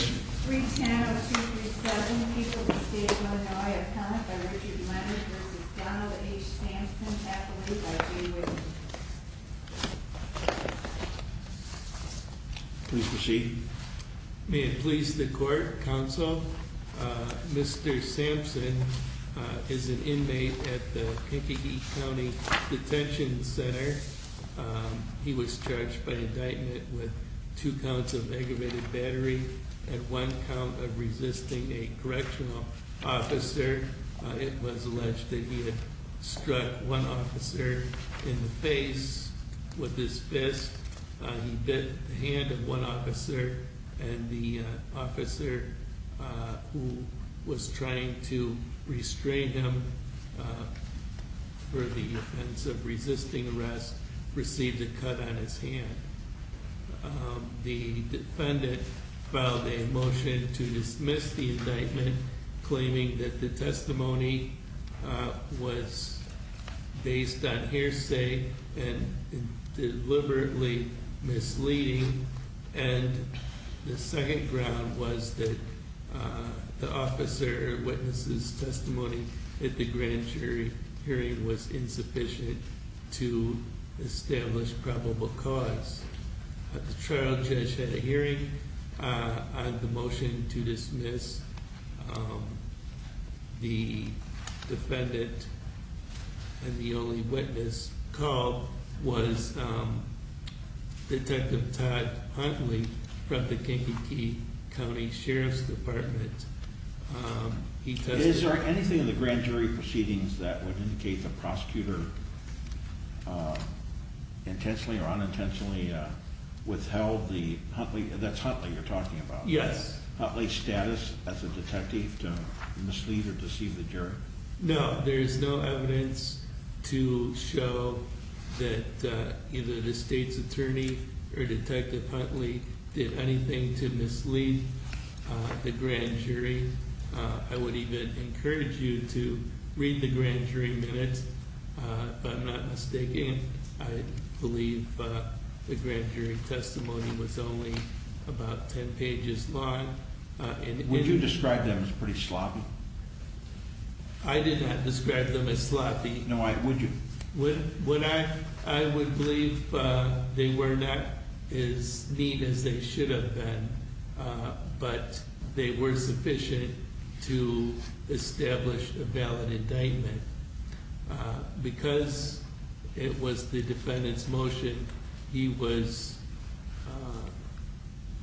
310-237, people of the state of Illinois, a count by Richard Leonard v. Donald H. Sampson, affiliated by G. Williams. Please proceed. May it please the court, counsel, Mr. Sampson is an inmate at the Kankakee County Detention Center. He was charged by indictment with two counts of aggravated battery and one count of resisting a correctional officer. It was alleged that he had struck one officer in the face with his fist. He bit the hand of one officer and the officer who was trying to restrain him for the offense of resisting arrest, received a cut on his hand. The defendant filed a motion to dismiss the indictment, claiming that the testimony was based on hearsay and deliberately misleading. And the second ground was that the officer witnesses testimony at the grand jury hearing was insufficient to establish probable cause. The trial judge had a hearing on the motion to dismiss. The defendant and the only witness called was Detective Todd Huntley from the Kankakee County Sheriff's Department. Is there anything in the grand jury proceedings that would indicate the prosecutor intentionally or unintentionally withheld the Huntley, that's Huntley you're talking about? Yes. Huntley's status as a detective to mislead or deceive the jury? No, there is no evidence to show that either the state's attorney or the grand jury, I would even encourage you to read the grand jury minutes. If I'm not mistaken, I believe the grand jury testimony was only about ten pages long. Would you describe them as pretty sloppy? I did not describe them as sloppy. No, I, would you? I would believe they were not as neat as they should have been, but they were sufficient to establish a valid indictment. Because it was the defendant's motion, he was,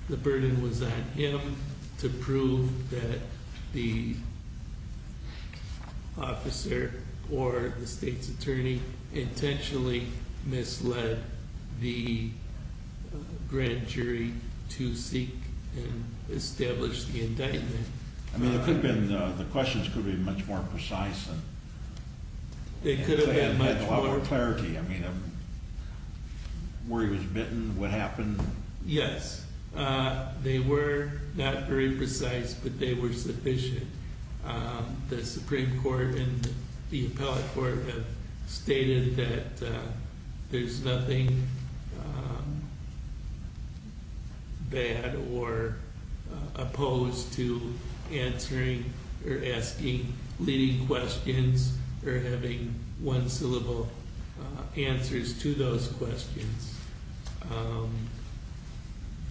the burden was on him to prove that the officer or the state's attorney intentionally misled the grand jury to seek and establish the indictment. I mean, it could have been, the questions could have been much more precise. They could have had much more clarity. I mean, where he was bitten, what happened. Yes, they were not very precise, but they were sufficient. The Supreme Court and the appellate court have stated that there's nothing bad or opposed to answering or asking leading questions or having one-syllable answers to those questions.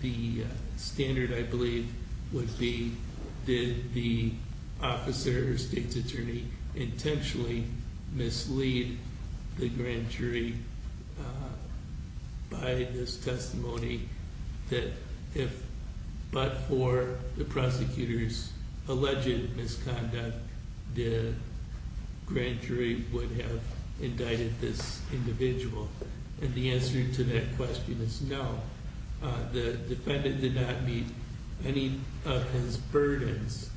The standard, I believe, would be, did the officer or state's attorney intentionally mislead the grand jury by this testimony that if, but for the prosecutor's alleged misconduct, the grand jury would have indicted this individual. And the answer to that question is no. The defendant did not meet any of his burdens.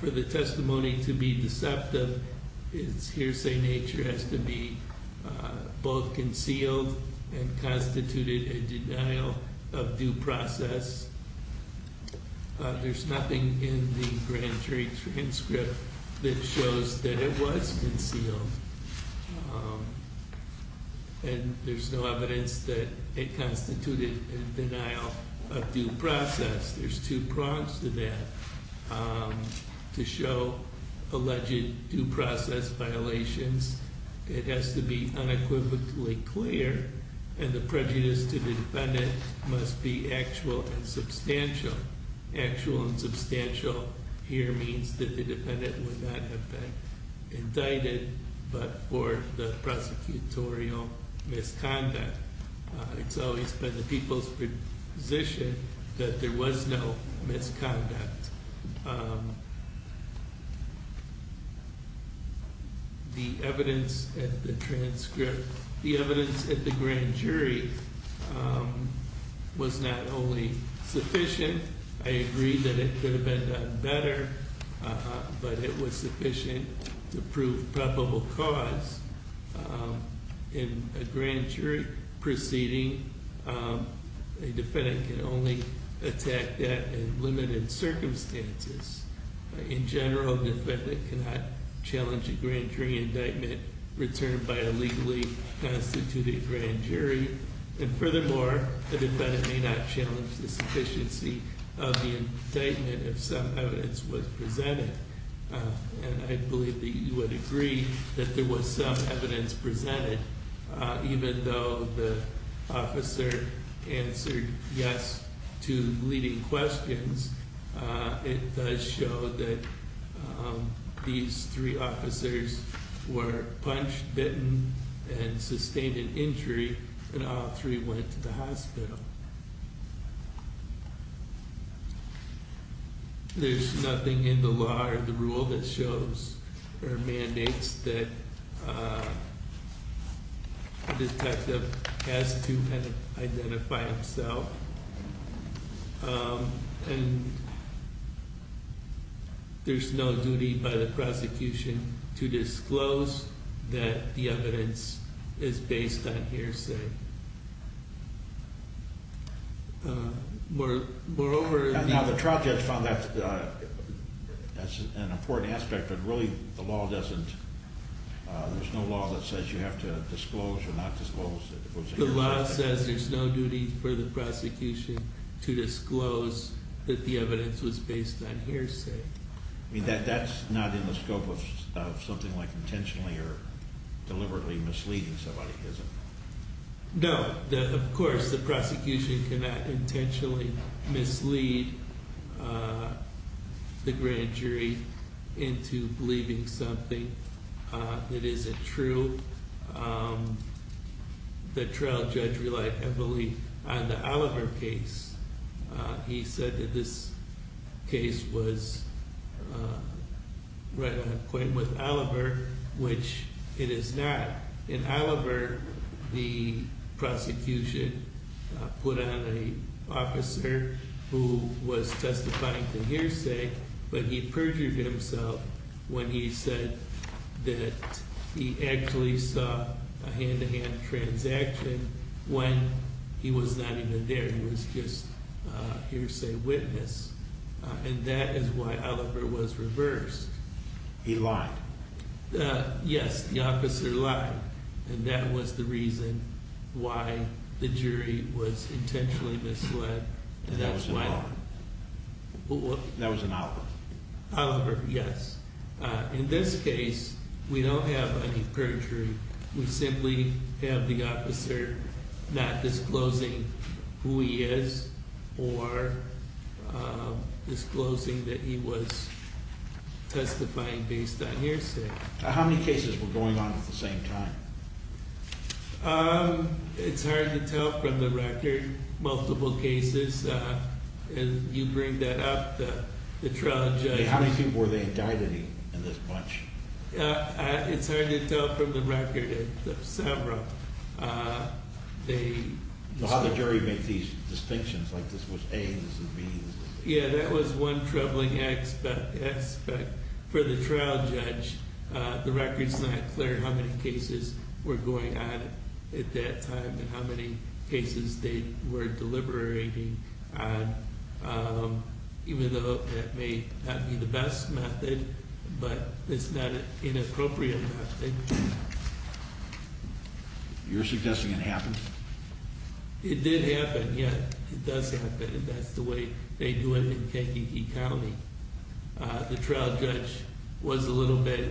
For the testimony to be deceptive, its hearsay nature has to be both concealed and constituted a denial of due process. There's nothing in the grand jury transcript that shows that it was concealed. And there's no evidence that it constituted a denial of due process. There's two prongs to that, to show alleged due process violations. It has to be unequivocally clear, and the prejudice to the defendant must be actual and substantial. Actual and substantial here means that the defendant would not have been indicted. But for the prosecutorial misconduct, it's always been the people's position that there was no misconduct. The evidence at the transcript, the evidence at the grand jury was not only sufficient, I agree that it could have been done better, but it was sufficient to prove probable cause in a grand jury proceeding. A defendant can only attack that in limited circumstances. In general, the defendant cannot challenge a grand jury indictment returned by a legally constituted grand jury. And furthermore, the defendant may not challenge the sufficiency of the indictment if some evidence was presented. And I believe that you would agree that there was some evidence presented. Even though the officer answered yes to leading questions, it does show that these three officers were punched, bitten, and sustained an injury, and all three went to the hospital. There's nothing in the law or the rule that shows or mandates that a detective has to identify himself. And there's no duty by the prosecution to disclose that the evidence is based on hearsay. Now the trial judge found that's an important aspect, but really the law doesn't, there's no law that says you have to disclose or not disclose. The law says there's no duty for the prosecution to disclose that the evidence was based on hearsay. I mean, that's not in the scope of something like intentionally or deliberately misleading somebody, is it? No, of course the prosecution cannot intentionally mislead the grand jury into believing something that isn't true. The trial judge relied heavily on the Oliver case. He said that this case was right on point with Oliver, which it is not. In Oliver, the prosecution put on an officer who was testifying to hearsay, but he perjured himself when he said that he actually saw a hand-to-hand transaction when he was not even there, he was just a hearsay witness. And that is why Oliver was reversed. He lied? Yes, the officer lied. And that was the reason why the jury was intentionally misled. And that was in Oliver? That was in Oliver. Oliver, yes. In this case, we don't have any perjury. We simply have the officer not disclosing who he is or disclosing that he was testifying based on hearsay. How many cases were going on at the same time? It's hard to tell from the record. Multiple cases. And you bring that up, the trial judge. How many people were there that died in this bunch? It's hard to tell from the record. Several. How did the jury make these distinctions? Like this was A, this was B? Yeah, that was one troubling aspect for the trial judge. The record's not clear how many cases were going on at that time and how many cases they were deliberating on, even though that may not be the best method, but it's not an inappropriate method. You're suggesting it happened? It did happen, yes. It does happen, and that's the way they do it in Kentucky County. The trial judge was a little bit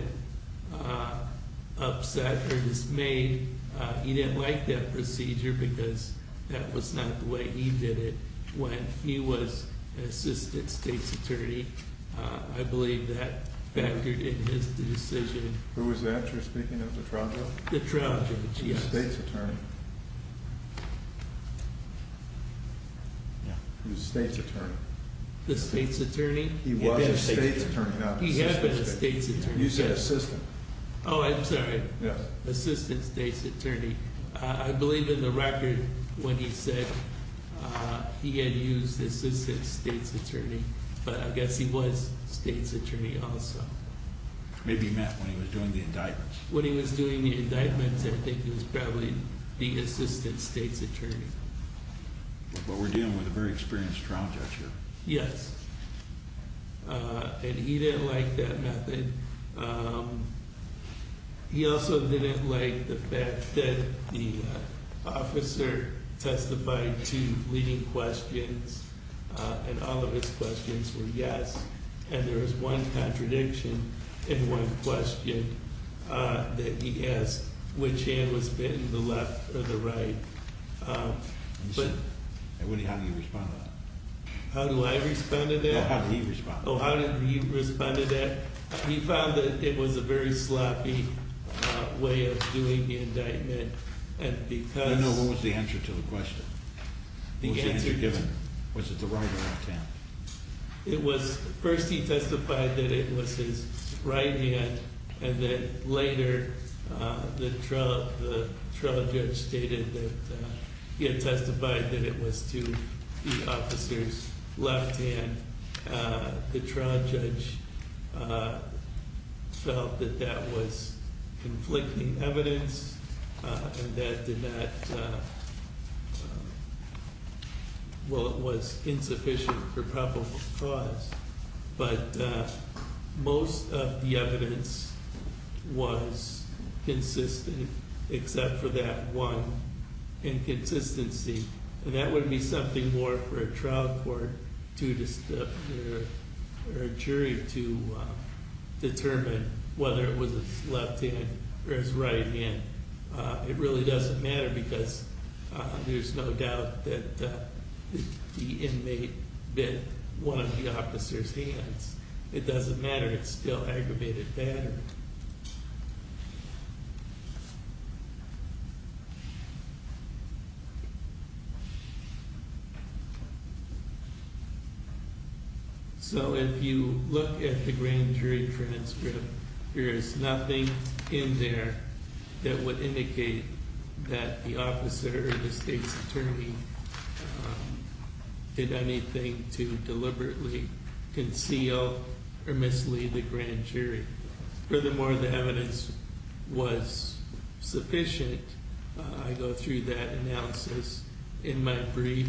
upset or dismayed. He didn't like that procedure because that was not the way he did it when he was an assistant state's attorney. I believe that factored in his decision. Who was that you're speaking of, the trial judge? The trial judge, yes. The state's attorney. He was a state's attorney. The state's attorney? He was a state's attorney, not an assistant state's attorney. He had been a state's attorney. You said assistant. Oh, I'm sorry. Yes. Assistant state's attorney. I believe in the record when he said he had used assistant state's attorney, but I guess he was state's attorney also. Maybe he meant when he was doing the indictments. When he was doing the indictments, I think he was probably the assistant state's attorney. But we're dealing with a very experienced trial judge here. Yes, and he didn't like that method. He also didn't like the fact that the officer testified to leading questions, and all of his questions were yes, and there was one contradiction in one question that he asked, which hand was bitten, the left or the right? How do you respond to that? How do I respond to that? How did he respond? Oh, how did he respond to that? He found that it was a very sloppy way of doing the indictment. No, no, what was the answer to the question? Was it the right or left hand? First he testified that it was his right hand, and then later the trial judge stated that he had testified that it was to the officer's left hand. The trial judge felt that that was conflicting evidence, and that it was insufficient for probable cause. But most of the evidence was consistent except for that one inconsistency, and that would be something more for a trial court or a jury to determine whether it was his left hand or his right hand. It really doesn't matter because there's no doubt that the inmate bit one of the officer's hands. It doesn't matter, it's still aggravated battery. So if you look at the grand jury transcript, there is nothing in there that would indicate that the officer or the state's attorney did anything to deliberately conceal or mislead the grand jury. Furthermore, the evidence was sufficient. I go through that analysis in my brief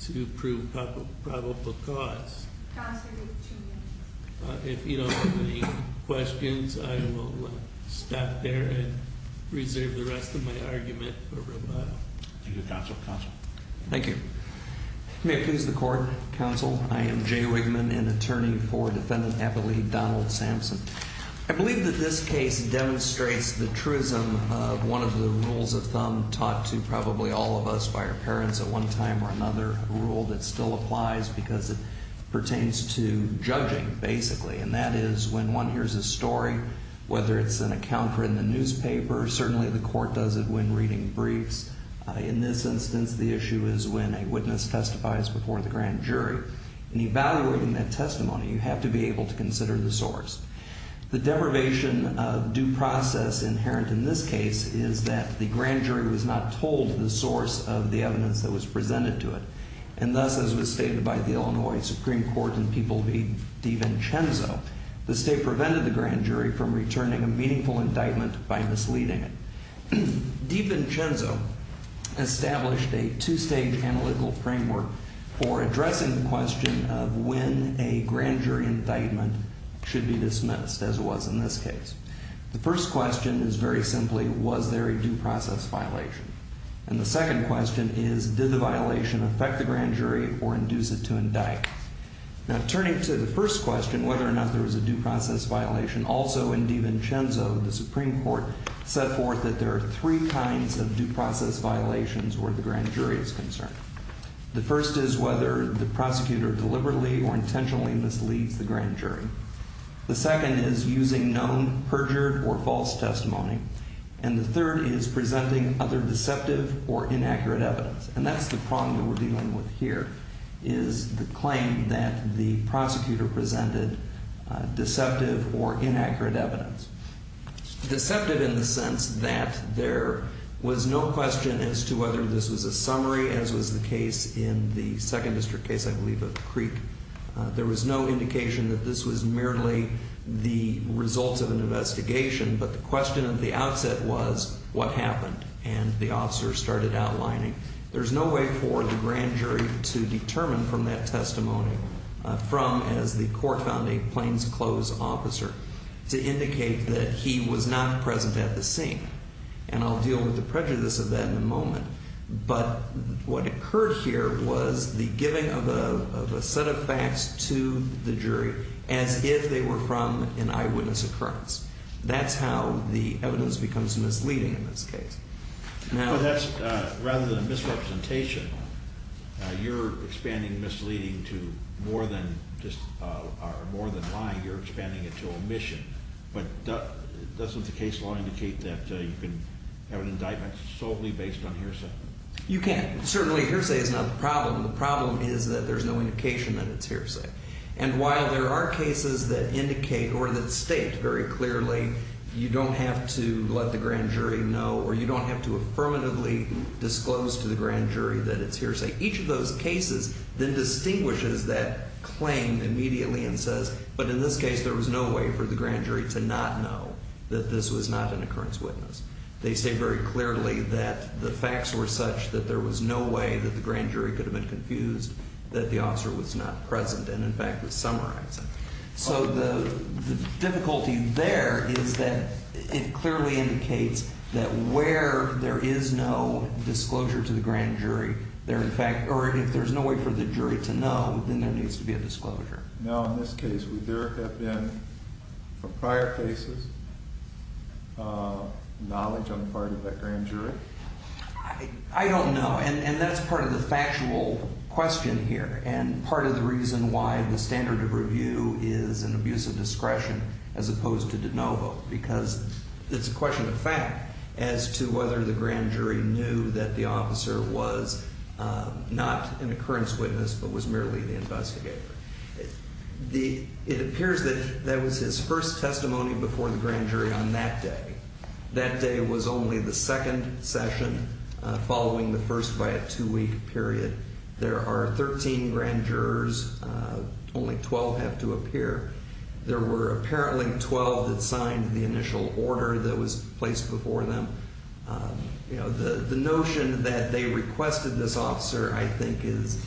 to prove probable cause. If you don't have any questions, I will stop there and reserve the rest of my argument for a while. Thank you, counsel. Thank you. May it please the court. Counsel, I am Jay Wigman, an attorney for Defendant Abilene Donald Sampson. I believe that this case demonstrates the truism of one of the rules of thumb taught to probably all of us by our parents at one time or another, a rule that still applies because it pertains to judging, basically, and that is when one hears a story, whether it's an account in the newspaper, certainly the court does it when reading briefs. In this instance, the issue is when a witness testifies before the grand jury. In evaluating that testimony, you have to be able to consider the source. The deprivation of due process inherent in this case is that the grand jury was not told the source of the evidence that was presented to it, and thus, as was stated by the Illinois Supreme Court in People v. DiVincenzo, the state prevented the grand jury from returning a meaningful indictment by misleading it. DiVincenzo established a two-stage analytical framework for addressing the question of when a grand jury indictment should be dismissed, as it was in this case. The first question is very simply, was there a due process violation? And the second question is, did the violation affect the grand jury or induce it to indict? Now, turning to the first question, whether or not there was a due process violation, also in DiVincenzo, the Supreme Court set forth that there are three kinds of due process violations where the grand jury is concerned. The first is whether the prosecutor deliberately or intentionally misleads the grand jury. The second is using known, perjured, or false testimony. And the third is presenting other deceptive or inaccurate evidence. And that's the problem that we're dealing with here, is the claim that the prosecutor presented deceptive or inaccurate evidence. Deceptive in the sense that there was no question as to whether this was a summary, as was the case in the Second District case, I believe, of the Creek. There was no indication that this was merely the results of an investigation, but the question at the outset was, what happened? And the officer started outlining, there's no way for the grand jury to determine from that testimony, from as the court found a plainclothes officer, to indicate that he was not present at the scene. And I'll deal with the prejudice of that in a moment. But what occurred here was the giving of a set of facts to the jury as if they were from an eyewitness occurrence. That's how the evidence becomes misleading in this case. Now that's rather than misrepresentation, you're expanding misleading to more than lying. You're expanding it to omission. But doesn't the case law indicate that you can have an indictment solely based on hearsay? You can. Certainly, hearsay is not the problem. The problem is that there's no indication that it's hearsay. And while there are cases that indicate or that state very clearly you don't have to let the grand jury know or you don't have to affirmatively disclose to the grand jury that it's hearsay, each of those cases then distinguishes that claim immediately and says, but in this case there was no way for the grand jury to not know that this was not an occurrence witness. They state very clearly that the facts were such that there was no way that the grand jury could have been confused, that the officer was not present and, in fact, was summarizing. So the difficulty there is that it clearly indicates that where there is no disclosure to the grand jury, there, in fact, or if there's no way for the jury to know, then there needs to be a disclosure. Now, in this case, would there have been, from prior cases, knowledge on the part of that grand jury? I don't know, and that's part of the factual question here and part of the reason why the standard of review is an abuse of discretion as opposed to de novo because it's a question of fact as to whether the grand jury knew that the officer was not an occurrence witness but was merely the investigator. It appears that that was his first testimony before the grand jury on that day. That day was only the second session following the first by a two-week period. There are 13 grand jurors. Only 12 have to appear. There were apparently 12 that signed the initial order that was placed before them. You know, the notion that they requested this officer, I think, is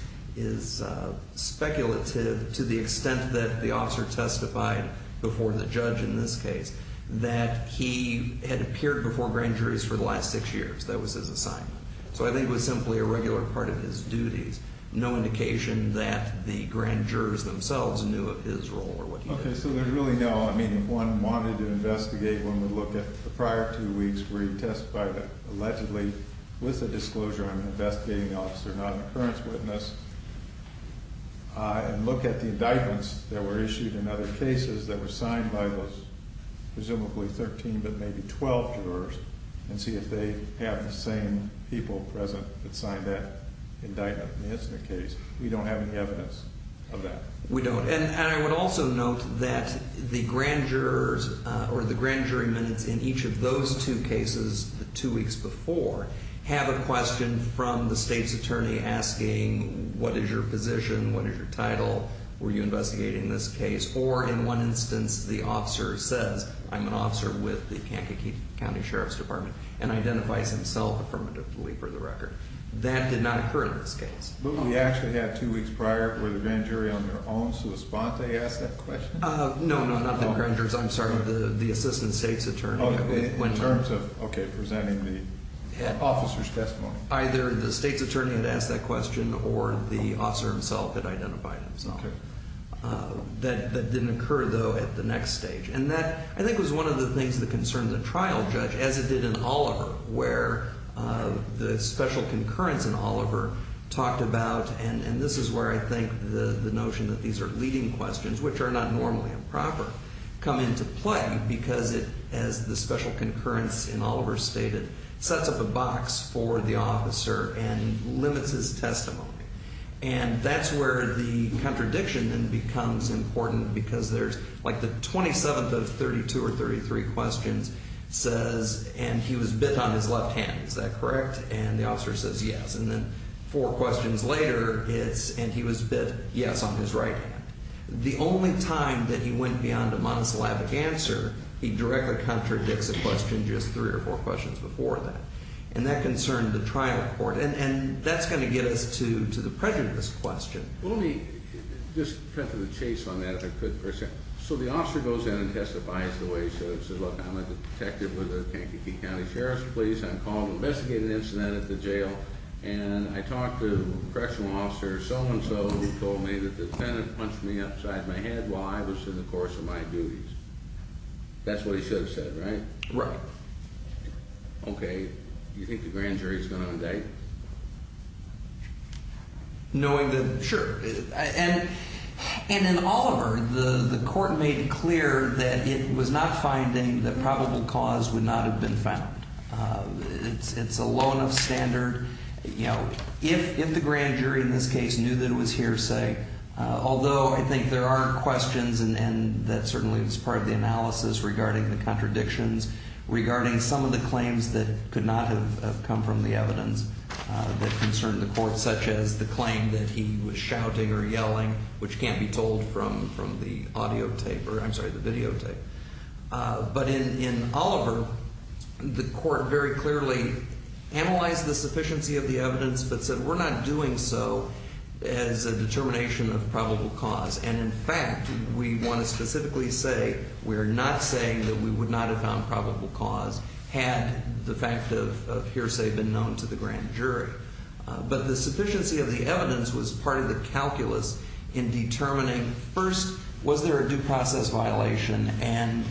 speculative to the extent that the officer testified before the judge in this case that he had appeared before grand juries for the last six years. That was his assignment. So I think it was simply a regular part of his duties. No indication that the grand jurors themselves knew of his role or what he did. Okay, so there's really no, I mean, if one wanted to investigate, one would look at the prior two weeks where he testified allegedly with a disclosure on an investigating officer, not an occurrence witness, and look at the indictments that were issued in other cases that were signed by those presumably 13 but maybe 12 jurors and see if they have the same people present that signed that indictment in the incident case. We don't have any evidence of that. We don't, and I would also note that the grand jurors or the grand jury minutes in each of those two cases the two weeks before have a question from the state's attorney asking what is your position, what is your title, were you investigating this case, or in one instance, the officer says, I'm an officer with the Kankakee County Sheriff's Department and identifies himself affirmatively for the record. That did not occur in this case. But we actually had two weeks prior where the grand jury on their own responded to ask that question? No, not the grand jurors. I'm sorry, the assistant state's attorney. In terms of, okay, presenting the officer's testimony. Either the state's attorney had asked that question or the officer himself had identified himself. Okay. That didn't occur, though, at the next stage. And that, I think, was one of the things that concerned the trial judge, as it did in Oliver, where the special concurrence in Oliver talked about, and this is where I think the notion that these are leading questions, which are not normally improper, come into play because it, as the special concurrence in Oliver stated, sets up a box for the officer and limits his testimony. And that's where the contradiction then becomes important because there's like the 27th of 32 or 33 questions says, and he was bid on his left hand, is that correct? And the officer says yes. And then four questions later, it's, and he was bid yes on his right hand. The only time that he went beyond a monosyllabic answer, he directly contradicts a question just three or four questions before that. And that concerned the trial court. And that's going to get us to the prejudice question. Well, let me just cut to the chase on that, if I could, for a second. So the officer goes in and testifies the way he should have. He says, look, I'm a detective with the Kankakee County Sheriff's Police. I'm called to investigate an incident at the jail. And I talked to the correctional officer, so-and-so, who told me that the defendant punched me upside my head while I was in the course of my duties. That's what he should have said, right? Right. Okay. Do you think the grand jury is going to indict? Knowing that, sure. And in Oliver, the court made it clear that it was not finding that probable cause would not have been found. It's a low enough standard. You know, if the grand jury in this case knew that it was hearsay, although I think there are questions, and that certainly is part of the analysis regarding the contradictions, regarding some of the claims that could not have come from the evidence that concerned the court, such as the claim that he was shouting or yelling, which can't be told from the audio tape, or I'm sorry, the videotape. But in Oliver, the court very clearly analyzed the sufficiency of the evidence, but said we're not doing so as a determination of probable cause. And, in fact, we want to specifically say we are not saying that we would not have found probable cause had the fact of hearsay been known to the grand jury. But the sufficiency of the evidence was part of the calculus in determining, first, was there a due process violation? And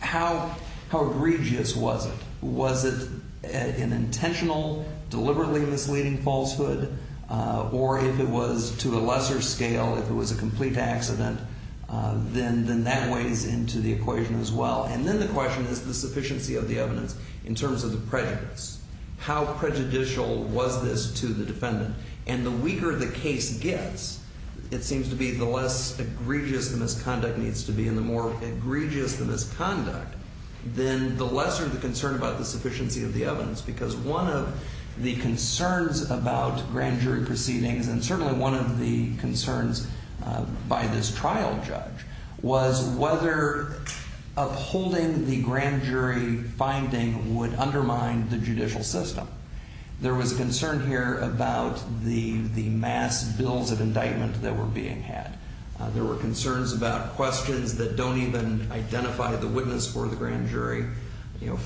how egregious was it? Was it an intentional, deliberately misleading falsehood? Or if it was to a lesser scale, if it was a complete accident, then that weighs into the equation as well. And then the question is the sufficiency of the evidence in terms of the prejudice. How prejudicial was this to the defendant? And the weaker the case gets, it seems to be the less egregious the misconduct needs to be, and the more egregious the misconduct, then the lesser the concern about the sufficiency of the evidence. Because one of the concerns about grand jury proceedings, and certainly one of the concerns by this trial judge, was whether upholding the grand jury finding would undermine the judicial system. There was a concern here about the mass bills of indictment that were being had. There were concerns about questions that don't even identify the witness for the grand jury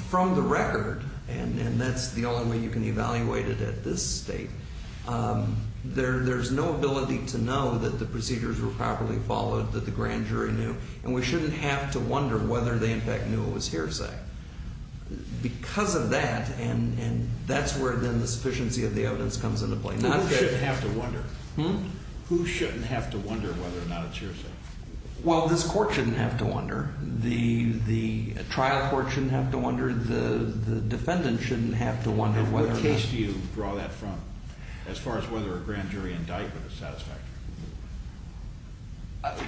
from the record, and that's the only way you can evaluate it at this state. There's no ability to know that the procedures were properly followed, that the grand jury knew, and we shouldn't have to wonder whether they in fact knew it was hearsay. Because of that, and that's where then the sufficiency of the evidence comes into play. Who shouldn't have to wonder? Who shouldn't have to wonder whether or not it's hearsay? Well, this court shouldn't have to wonder. The trial court shouldn't have to wonder. The defendant shouldn't have to wonder whether or not. What case do you draw that from as far as whether a grand jury indictment is satisfactory?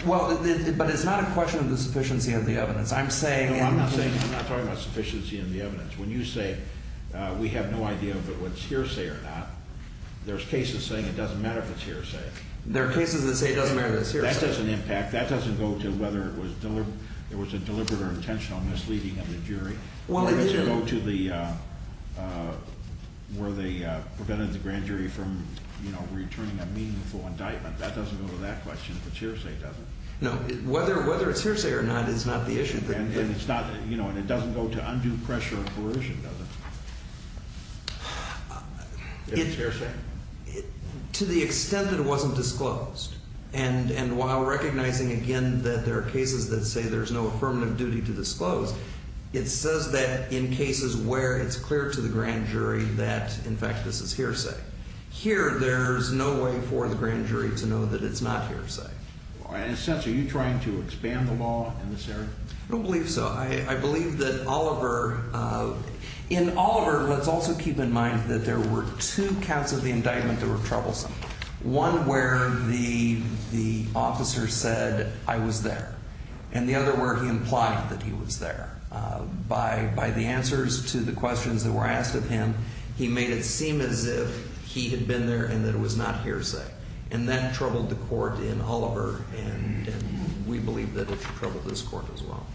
Well, but it's not a question of the sufficiency of the evidence. I'm saying. No, I'm not saying. I'm not talking about sufficiency of the evidence. When you say we have no idea if it was hearsay or not, there's cases saying it doesn't matter if it's hearsay. There are cases that say it doesn't matter if it's hearsay. That doesn't impact. That doesn't go to whether it was a deliberate or intentional misleading of the jury. Well, it didn't. Whether they prevented the grand jury from returning a meaningful indictment. That doesn't go to that question if it's hearsay, does it? No. Whether it's hearsay or not is not the issue. And it doesn't go to undue pressure or coercion, does it? If it's hearsay. To the extent that it wasn't disclosed. And while recognizing, again, that there are cases that say there's no affirmative duty to disclose, it says that in cases where it's clear to the grand jury that, in fact, this is hearsay. Here, there's no way for the grand jury to know that it's not hearsay. In a sense, are you trying to expand the law in this area? I don't believe so. I believe that Oliver, in Oliver, let's also keep in mind that there were two counts of the indictment that were troublesome. One where the officer said, I was there. And the other where he implied that he was there. By the answers to the questions that were asked of him, he made it seem as if he had been there and that it was not hearsay. And that troubled the court in Oliver, and we believe that it should trouble this court as well.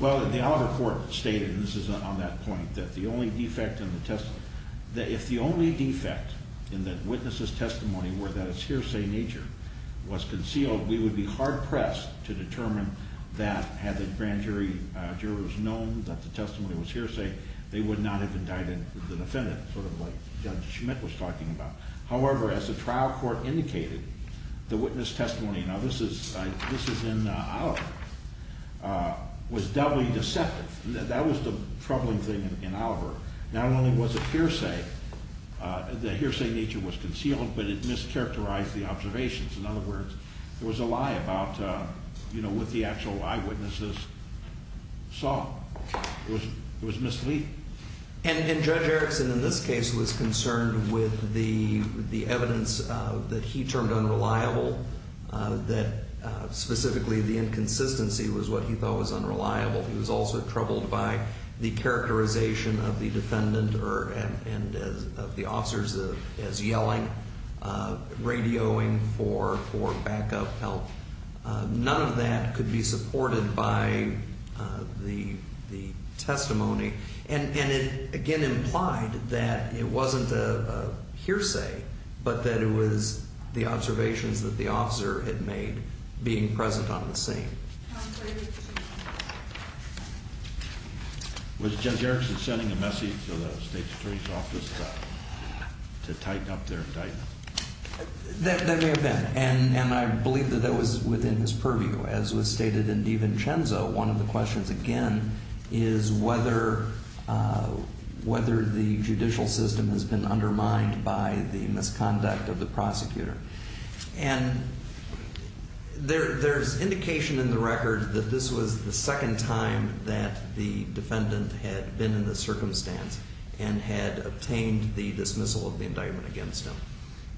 Well, the Oliver court stated, and this is on that point, that the only defect in the testimony, that if the only defect in the witness's testimony were that it's hearsay in nature, was concealed, we would be hard pressed to determine that had the grand jury jurors known that the testimony was hearsay, they would not have indicted the defendant, sort of like Judge Schmidt was talking about. However, as the trial court indicated, the witness testimony, now this is in Oliver, was doubly deceptive. That was the troubling thing in Oliver. Not only was it hearsay, the hearsay nature was concealed, but it mischaracterized the observations. In other words, there was a lie about what the actual eyewitnesses saw. It was misleading. And Judge Erickson, in this case, was concerned with the evidence that he termed unreliable, that specifically the inconsistency was what he thought was unreliable. He was also troubled by the characterization of the defendant and of the officers as yelling, radioing for backup help. None of that could be supported by the testimony. And it, again, implied that it wasn't a hearsay, but that it was the observations that the officer had made being present on the scene. Was Judge Erickson sending a message to the State's Attorney's Office to tighten up their indictment? That may have been. And I believe that that was within his purview. As was stated in DiVincenzo, one of the questions, again, is whether the judicial system has been undermined by the misconduct of the prosecutor. And there's indication in the record that this was the second time that the defendant had been in this circumstance and had obtained the dismissal of the indictment against him.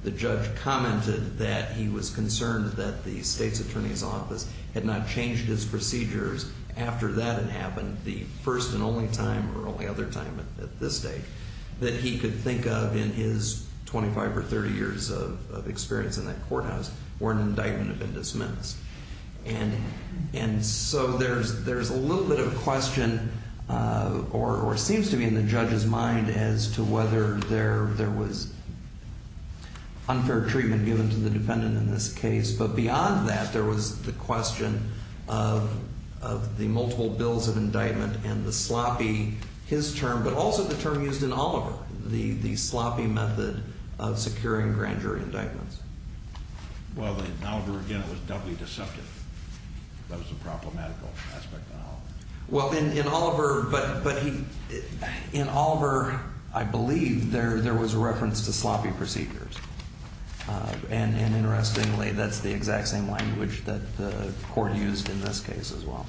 The judge commented that he was concerned that the State's Attorney's Office had not changed his procedures after that had happened, the first and only time, or only other time at this date, that he could think of in his 25 or 30 years of experience in that courthouse where an indictment had been dismissed. And so there's a little bit of question, or it seems to be in the judge's mind, as to whether there was unfair treatment given to the defendant in this case. But beyond that, there was the question of the multiple bills of indictment and the sloppy, his term, but also the term used in Oliver, the sloppy method of securing grand jury indictments. Well, in Oliver, again, it was doubly deceptive. That was a problematical aspect in Oliver. Well, in Oliver, but he, in Oliver, I believe there was a reference to sloppy procedures. And interestingly, that's the exact same language that the court used in this case as well.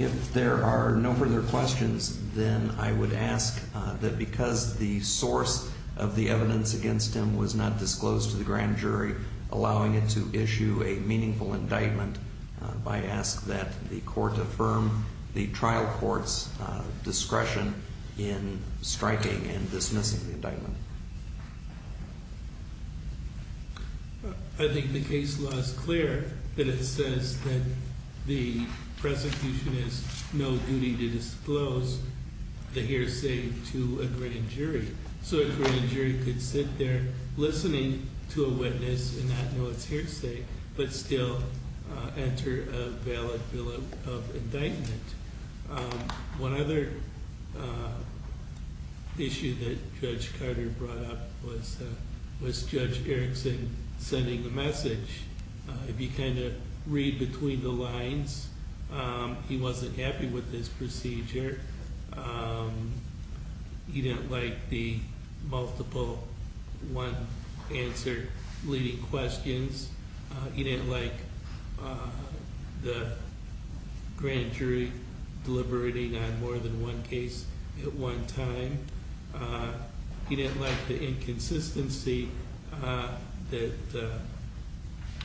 If there are no further questions, then I would ask that because the source of the evidence against him was not disclosed to the grand jury, allowing it to issue a meaningful indictment, I ask that the court affirm the trial court's discretion in striking and dismissing the indictment. I think the case law is clear that it says that the prosecution has no duty to disclose the hearsay to a grand jury. So a grand jury could sit there listening to a witness and not know its hearsay, but still enter a valid bill of indictment. One other issue that Judge Carter brought up was Judge Erickson sending the message. If you kind of read between the lines, he wasn't happy with this procedure. He didn't like the multiple one answer leading questions. He didn't like the grand jury deliberating on more than one case at one time. He didn't like the inconsistency that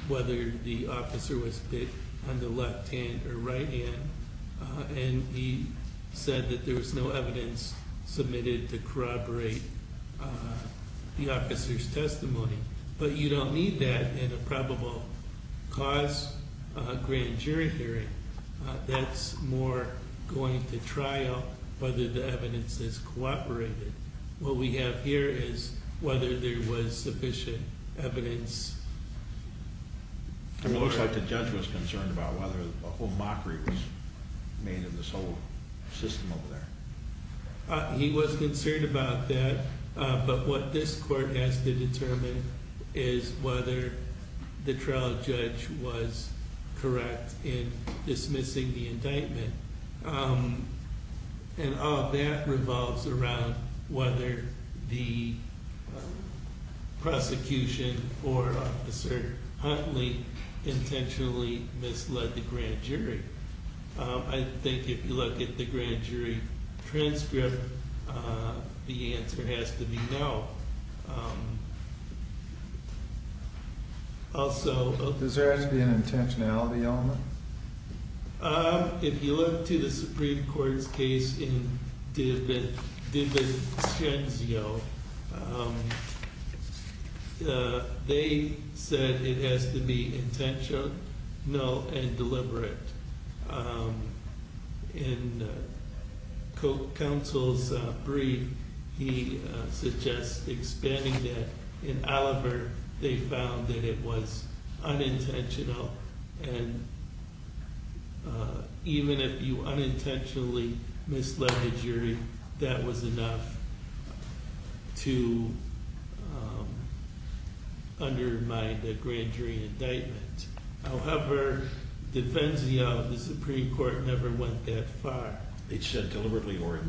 whether the officer was on the left hand or right hand. And he said that there was no evidence submitted to corroborate the officer's testimony. But you don't need that in a probable cause grand jury hearing. That's more going to trial whether the evidence is corroborated. What we have here is whether there was sufficient evidence. It looks like the judge was concerned about whether a whole mockery was made in this whole system over there. He was concerned about that. But what this court has to determine is whether the trial judge was correct in dismissing the indictment. And all that revolves around whether the prosecution or Officer Huntley intentionally misled the grand jury. I think if you look at the grand jury transcript, the answer has to be no. Does there have to be an intentionality element? If you look to the Supreme Court's case in DiVincenzo, they said it has to be intentional and deliberate. In Coke Counsel's brief, he suggests expanding that. In Oliver, they found that it was unintentional. And even if you unintentionally misled the jury, that was enough to undermine the grand jury indictment. However, DiVincenzo, the Supreme Court never went that far. They said deliberately or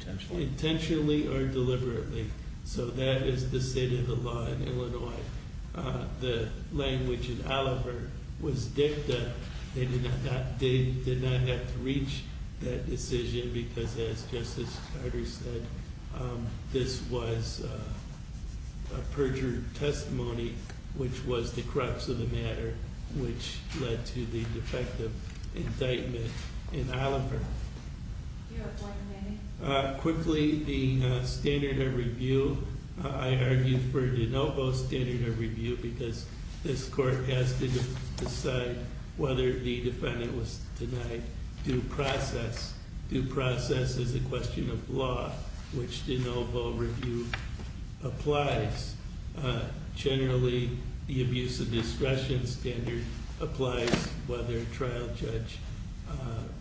intentionally? Intentionally or deliberately. So that is the state of the law in Illinois. The language in Oliver was dicta. They did not have to reach that decision because, as Justice Carter said, this was a perjured testimony, which was the crux of the matter, which led to the defective indictment in Oliver. Do you have one, Manny? Quickly, the standard of review. I argued for de novo standard of review because this court has to decide whether the defendant was denied due process. Due process is a question of law, which de novo review applies. Generally, the abuse of discretion standard applies whether a trial judge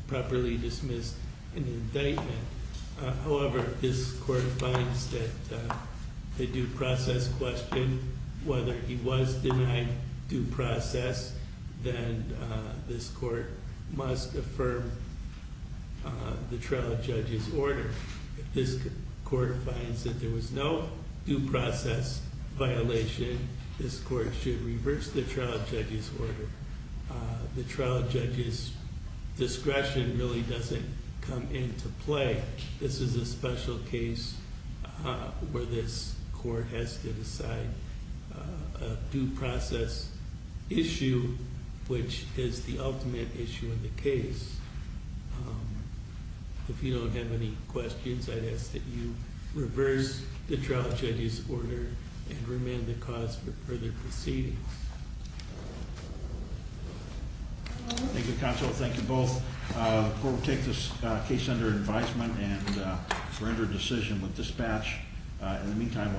properly dismissed an indictment. However, this court finds that the due process question, whether he was denied due process, then this court must affirm the trial judge's order. This court finds that there was no due process violation. This court should reverse the trial judge's order. The trial judge's discretion really doesn't come into play. This is a special case where this court has to decide a due process issue, which is the ultimate issue in the case. If you don't have any questions, I'd ask that you reverse the trial judge's order and remand the cause for further proceedings. Thank you, counsel. Thank you both. The court will take this case under advisement and render a decision with dispatch. In the meantime-